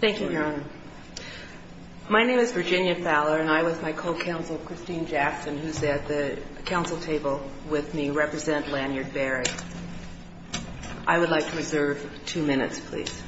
Thank you, Your Honor. My name is Virginia Fowler, and I, with my co-counsel, Christine Jackson, who's at the council table with me, represent Lanyard Berry. I would like to reserve two minutes, please.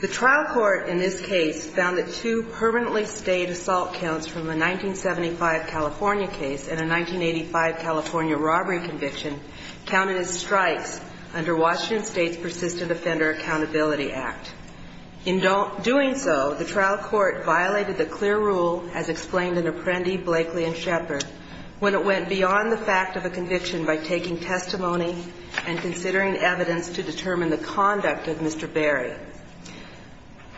The trial court in this case found that two permanently stayed assault counts from a 1975 California case and a 1985 California robbery conviction counted as strikes under Washington State's Persistent Offender Accountability Act. In doing so, the trial court violated the clear rule, as explained in Apprendi, Blakely, and Shepard, when it went beyond the fact of a conviction by taking testimony and considering evidence to determine the conduct of Mr. Berry.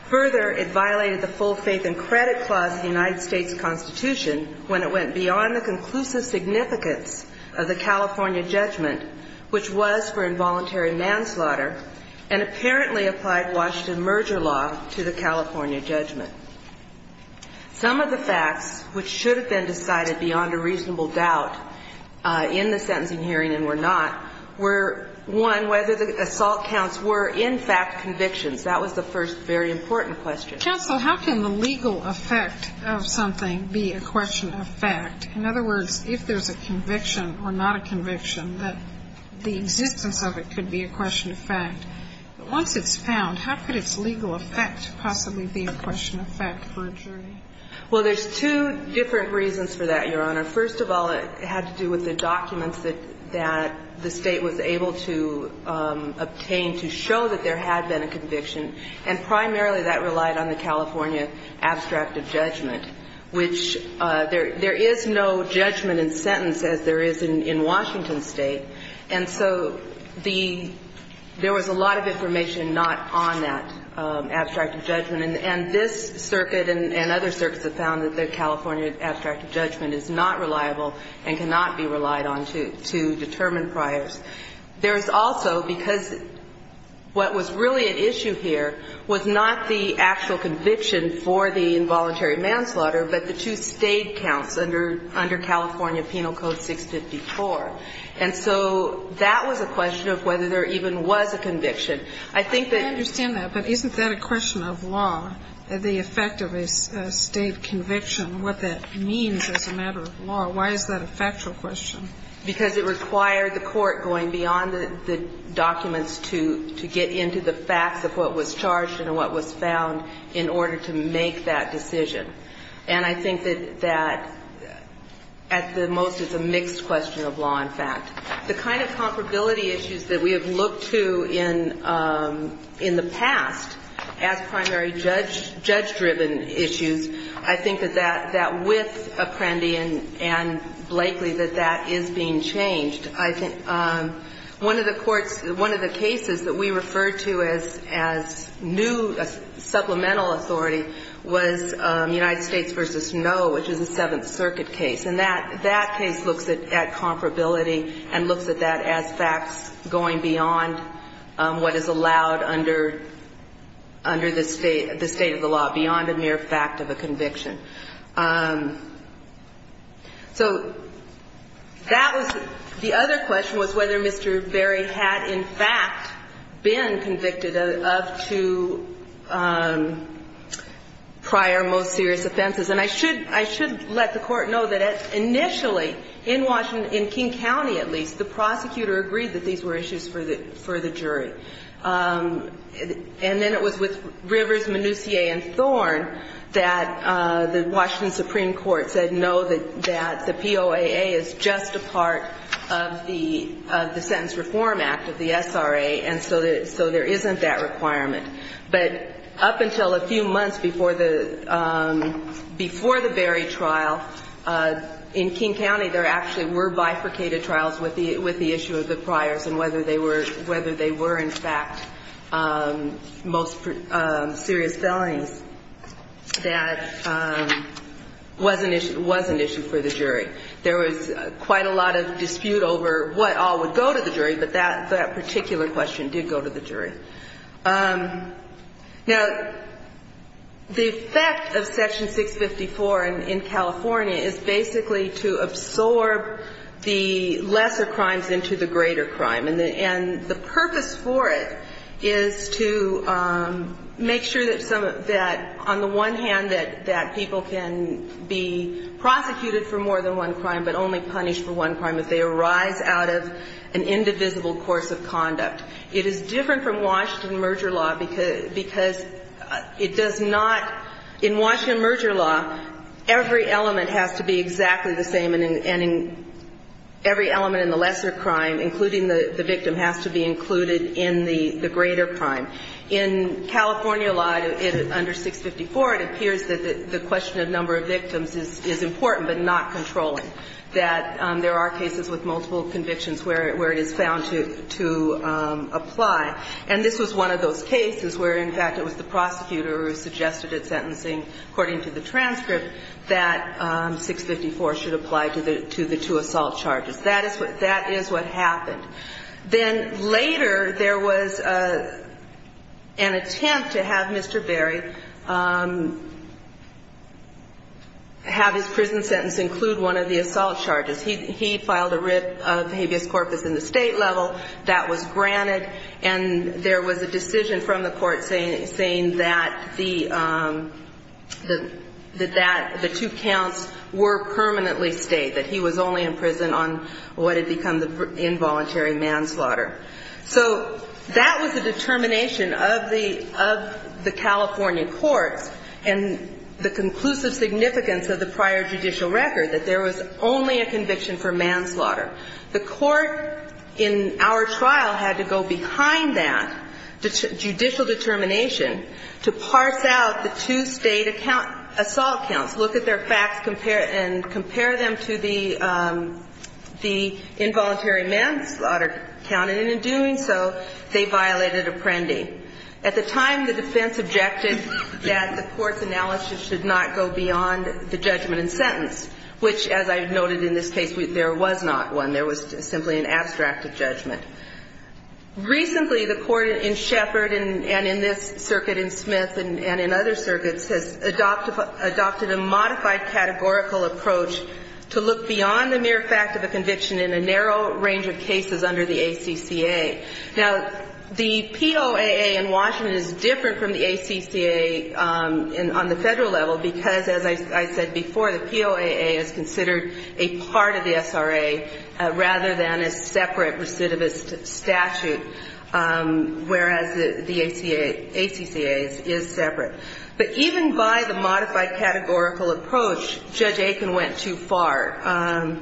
Further, it violated the full faith and credit clause of the United States Constitution when it went beyond the conclusive significance of the California judgment, which was for involuntary manslaughter, and apparently applied Washington merger law to the California judgment. Some of the facts, which should have been decided beyond a reasonable doubt in the sentencing hearing and were not, were, one, whether the assault counts were, in fact, convictions. That was the first very important question. But, counsel, how can the legal effect of something be a question of fact? In other words, if there's a conviction or not a conviction, that the existence of it could be a question of fact. But once it's found, how could its legal effect possibly be a question of fact for a jury? Well, there's two different reasons for that, Your Honor. First of all, it had to do with the documents that the State was able to obtain to show that there had been a conviction. And primarily, that relied on the California abstract of judgment, which there is no judgment in sentence as there is in Washington State. And so there was a lot of information not on that abstract of judgment. And this circuit and other circuits have found that the California abstract of judgment is not reliable and cannot be relied on to determine priors. There's also, because what was really at issue here was not the actual conviction for the involuntary manslaughter, but the two State counts under California Penal Code 654. And so that was a question of whether there even was a conviction. I think that ---- I understand that, but isn't that a question of law, the effect of a State conviction, what that means as a matter of law? Why is that a factual question? Because it required the Court going beyond the documents to get into the facts of what was charged and what was found in order to make that decision. And I think that at the most it's a mixed question of law and fact. The kind of comparability issues that we have looked to in the past as primary judge-driven issues, I think that that, with Apprendi and Blakely, that that is being changed. I think one of the courts ---- one of the cases that we referred to as new supplemental authority was United States v. Snow, which is a Seventh Circuit case. And that case looks at comparability and looks at that as facts going beyond what is allowed under the State of the law, beyond a mere fact of a conviction. So that was ---- the other question was whether Mr. Berry had in fact been convicted up to prior most serious offenses. And I should let the Court know that initially in Washington, in King County at least, the prosecutor agreed that these were issues for the jury. And then it was with Rivers, Manoussier, and Thorne that the Washington Supreme Court said no, that the POAA is just a part of the Sentence Reform Act, of the SRA, and so there isn't that requirement. But up until a few months before the Berry trial, in King County, there actually were bifurcated trials with the issue of the priors and whether they were in fact most serious felonies that was an issue for the jury. There was quite a lot of dispute over what all would go to the jury, but that particular question did go to the jury. Now, the effect of Section 654 in California is basically to absorb the lesser crimes into the greater crime. And the purpose for it is to make sure that on the one hand that people can be prosecuted for more than one crime but only punished for one crime if they arise out of an indivisible course of conduct. It is different from Washington merger law because it does not – in Washington merger law, every element has to be exactly the same and every element in the lesser crime, including the victim, has to be included in the greater crime. In California law, under 654, it appears that the question of number of victims is important but not controlling, that there are cases with multiple convictions where it is found to apply. And this was one of those cases where, in fact, it was the prosecutor who suggested at sentencing, according to the transcript, that 654 should apply to the two assault charges. That is what happened. Then later there was an attempt to have Mr. Berry have his prison sentence include one of the assault charges. He filed a writ of habeas corpus in the state level. That was granted. And there was a decision from the court saying that the two counts were permanently stayed, that he was only in prison on what had become the involuntary manslaughter. So that was a determination of the California courts and the conclusive significance of the prior judicial record, that there was only a conviction for manslaughter. The court in our trial had to go behind that judicial determination to parse out the two state assault counts, look at their facts and compare them to the involuntary manslaughter count. And in doing so, they violated Apprendi. At the time, the defense objected that the court's analysis should not go beyond the judgment and sentence, which, as I noted in this case, there was not one. There was simply an abstract of judgment. Recently, the court in Sheppard and in this circuit in Smith and in other circuits has adopted a modified categorical approach to look beyond the mere fact of a conviction in a narrow range of cases under the ACCA. Now, the POAA in Washington is different from the ACCA on the Federal level because, as I said before, the POAA is considered a part of the SRA rather than a separate recidivist statute, whereas the ACCA is separate. But even by the modified categorical approach, Judge Aiken went too far.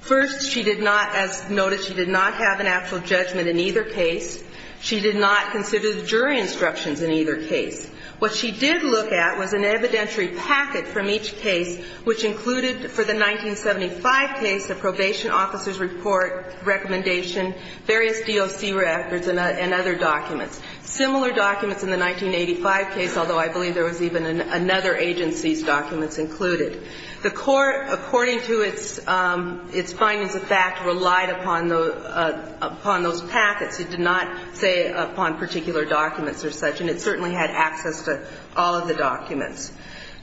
First, she did not, as noted, she did not have an actual judgment in either case. She did not consider the jury instructions in either case. What she did look at was an evidentiary packet from each case which included for the 1975 case a probation officer's report, recommendation, various DOC records and other documents. Similar documents in the 1985 case, although I believe there was even another agency's documents included. The court, according to its findings of fact, relied upon those packets. It did not say upon particular documents or such, and it certainly had access to all of the documents.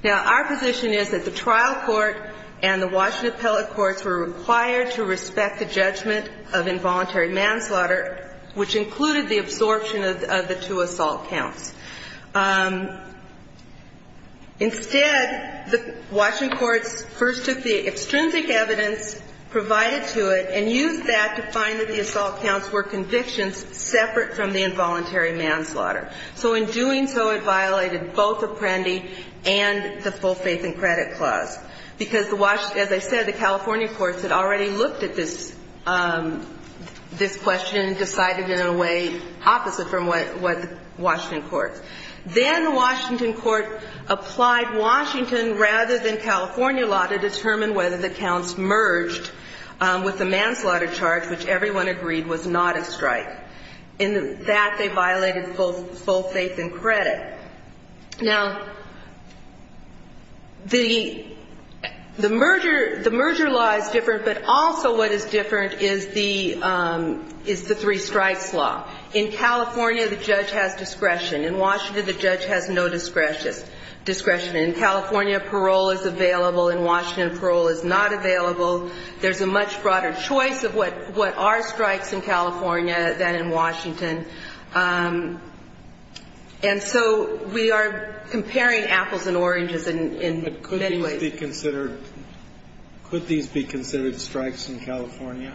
Now, our position is that the trial court and the Washington appellate courts were required to respect the judgment of involuntary manslaughter, which included the absorption of the two assault counts. Instead, the Washington courts first took the extrinsic evidence provided to it and used that to find that the assault counts were convictions separate from the involuntary manslaughter. So in doing so, it violated both Apprendi and the full faith and credit clause, because the Washington, as I said, the California courts had already looked at this question and decided in a way opposite from what the Washington courts. Then the Washington court applied Washington rather than California law to determine whether the counts merged with the manslaughter charge, which everyone agreed was not a strike. In that, they violated both full faith and credit. Now, the merger law is different, but also what is different is that the California law is the three strikes law. In California, the judge has discretion. In Washington, the judge has no discretion. In California, parole is available. In Washington, parole is not available. There's a much broader choice of what are strikes in California than in Washington. And so we are comparing apples and oranges in many ways. Could these be considered strikes in California?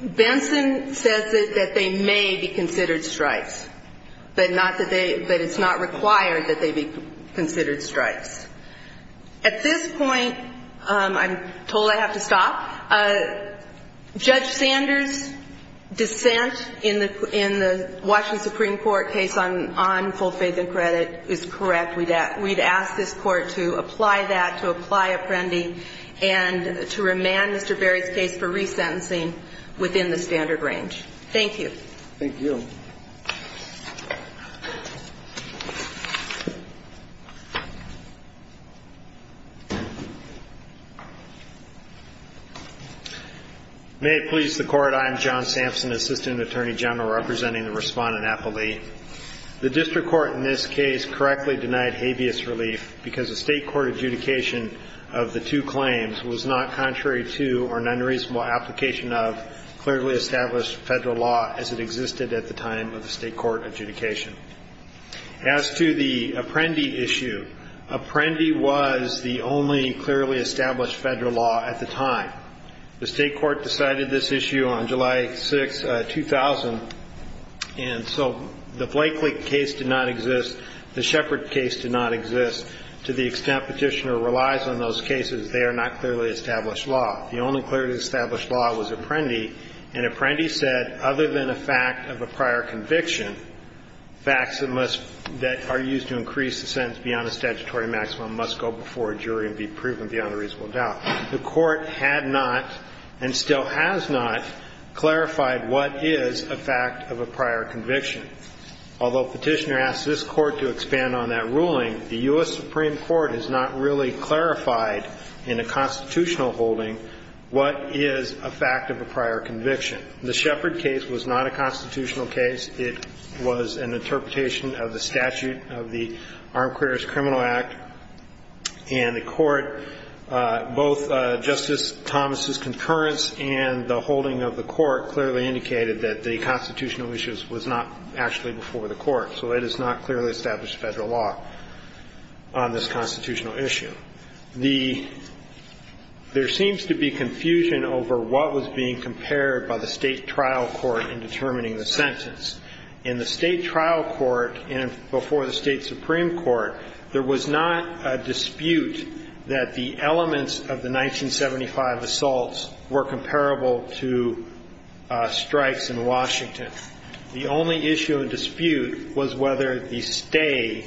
Benson says that they may be considered strikes, but it's not required that they be considered strikes. At this point, I'm told I have to stop. Judge Sanders' dissent in the Washington Supreme Court case on full faith and credit is correct. And we'd ask this Court to apply that, to apply Apprendi, and to remand Mr. Berry's case for resentencing within the standard range. Thank you. Thank you. May it please the Court. I am John Sampson, Assistant Attorney General, representing the Respondent Appellee. The district court in this case correctly denied habeas relief because the state court adjudication of the two claims was not contrary to or an unreasonable application of clearly established federal law as it existed at the time of the state court adjudication. As to the Apprendi issue, Apprendi was the only clearly established federal law at the time. The state court decided this issue on July 6, 2000. And so the Blakely case did not exist. The Shepard case did not exist. To the extent Petitioner relies on those cases, they are not clearly established law. The only clearly established law was Apprendi. And Apprendi said, other than a fact of a prior conviction, facts that are used to increase the sentence beyond a statutory maximum must go before a jury and be proven beyond a reasonable doubt. The court had not, and still has not, clarified what is a fact of a prior conviction. Although Petitioner asked this court to expand on that ruling, the U.S. Supreme Court has not really clarified in a constitutional holding what is a fact of a prior conviction. The Shepard case was not a constitutional case. It was an interpretation of the statute of the Armed Criminals Act. And the court, both Justice Thomas' concurrence and the holding of the court clearly indicated that the constitutional issue was not actually before the court. So it has not clearly established federal law on this constitutional issue. There seems to be confusion over what was being compared by the state trial court in determining the sentence. In the state trial court and before the state supreme court, there was not a dispute that the elements of the 1975 assaults were comparable to strikes in Washington. The only issue of dispute was whether the stay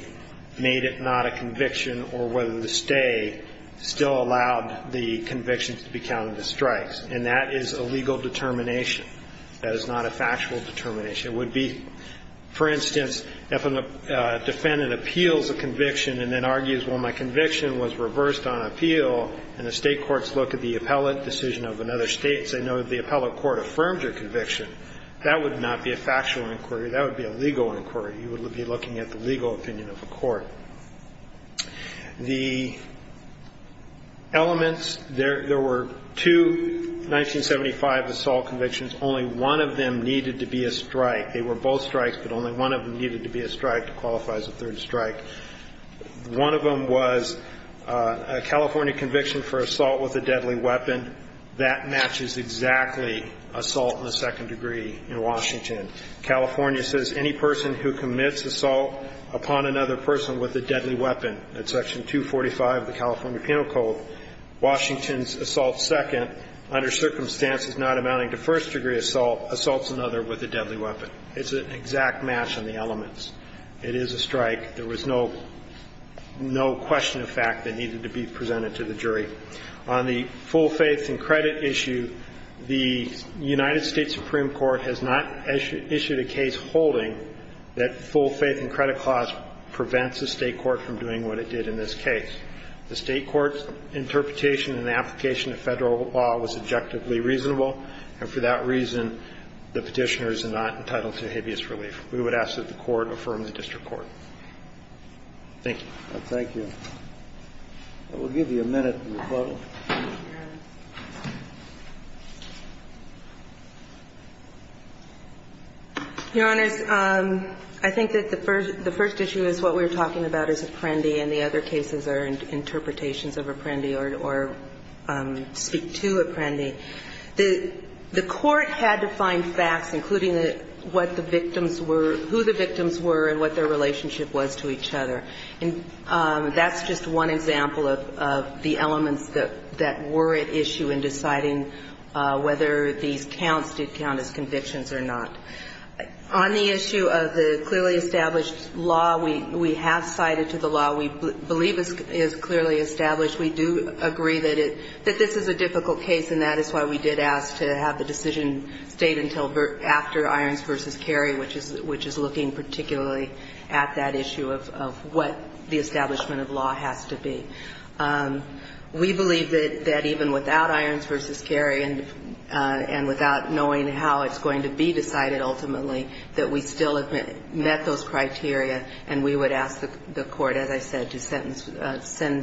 made it not a conviction or whether the stay still allowed the convictions to be counted as strikes. And that is a legal determination. That is not a factual determination. It would be, for instance, if a defendant appeals a conviction and then argues, well, my conviction was reversed on appeal, and the state courts look at the appellate decision of another state and say, no, the appellate court affirmed your conviction, that would not be a factual inquiry. That would be a legal inquiry. You would be looking at the legal opinion of a court. The elements, there were two 1975 assault convictions. Only one of them needed to be a strike. They were both strikes, but only one of them needed to be a strike to qualify as a third strike. One of them was a California conviction for assault with a deadly weapon. That matches exactly assault in the second degree in Washington. California says any person who commits assault upon another person with a deadly weapon, that's Section 245 of the California Penal Code. Washington's assault second, under circumstances not amounting to first degree assault, assaults another with a deadly weapon. It's an exact match on the elements. It is a strike. There was no question of fact that needed to be presented to the jury. On the full faith and credit issue, the United States Supreme Court has not issued a case holding that full faith and credit clause prevents a state court from doing what it did in this case. The state court's interpretation and application of Federal law was objectively reasonable, and for that reason, the Petitioner is not entitled to habeas relief. We would ask that the Court affirm the district court. Thank you. Thank you. We'll give you a minute to rebuttal. Your Honors, I think that the first issue is what we were talking about is Apprendi and the other cases are interpretations of Apprendi or speak to Apprendi. The Court had to find facts, including what the victims were, who the victims were, and what their relationship was to each other. And that's just one example of the elements that were at issue in deciding whether these counts did count as convictions or not. On the issue of the clearly established law, we have cited to the law. We believe it is clearly established. We do agree that this is a difficult case, and that is why we did ask to have the decision stayed until after Irons v. Cary, which is looking particularly at that issue of what the establishment of law has to be. We believe that even without Irons v. Cary and without knowing how it's going to be decided ultimately, that we still have met those criteria, and we would ask the Court, as I said, to sentence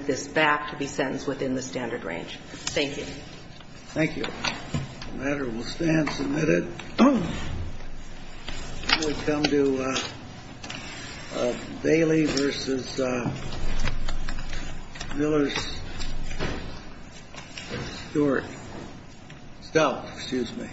this back to be sentenced within the standard range. Thank you. Thank you. The matter will stand submitted. We come to Bailey v. Miller, Stewart, Stout, excuse me.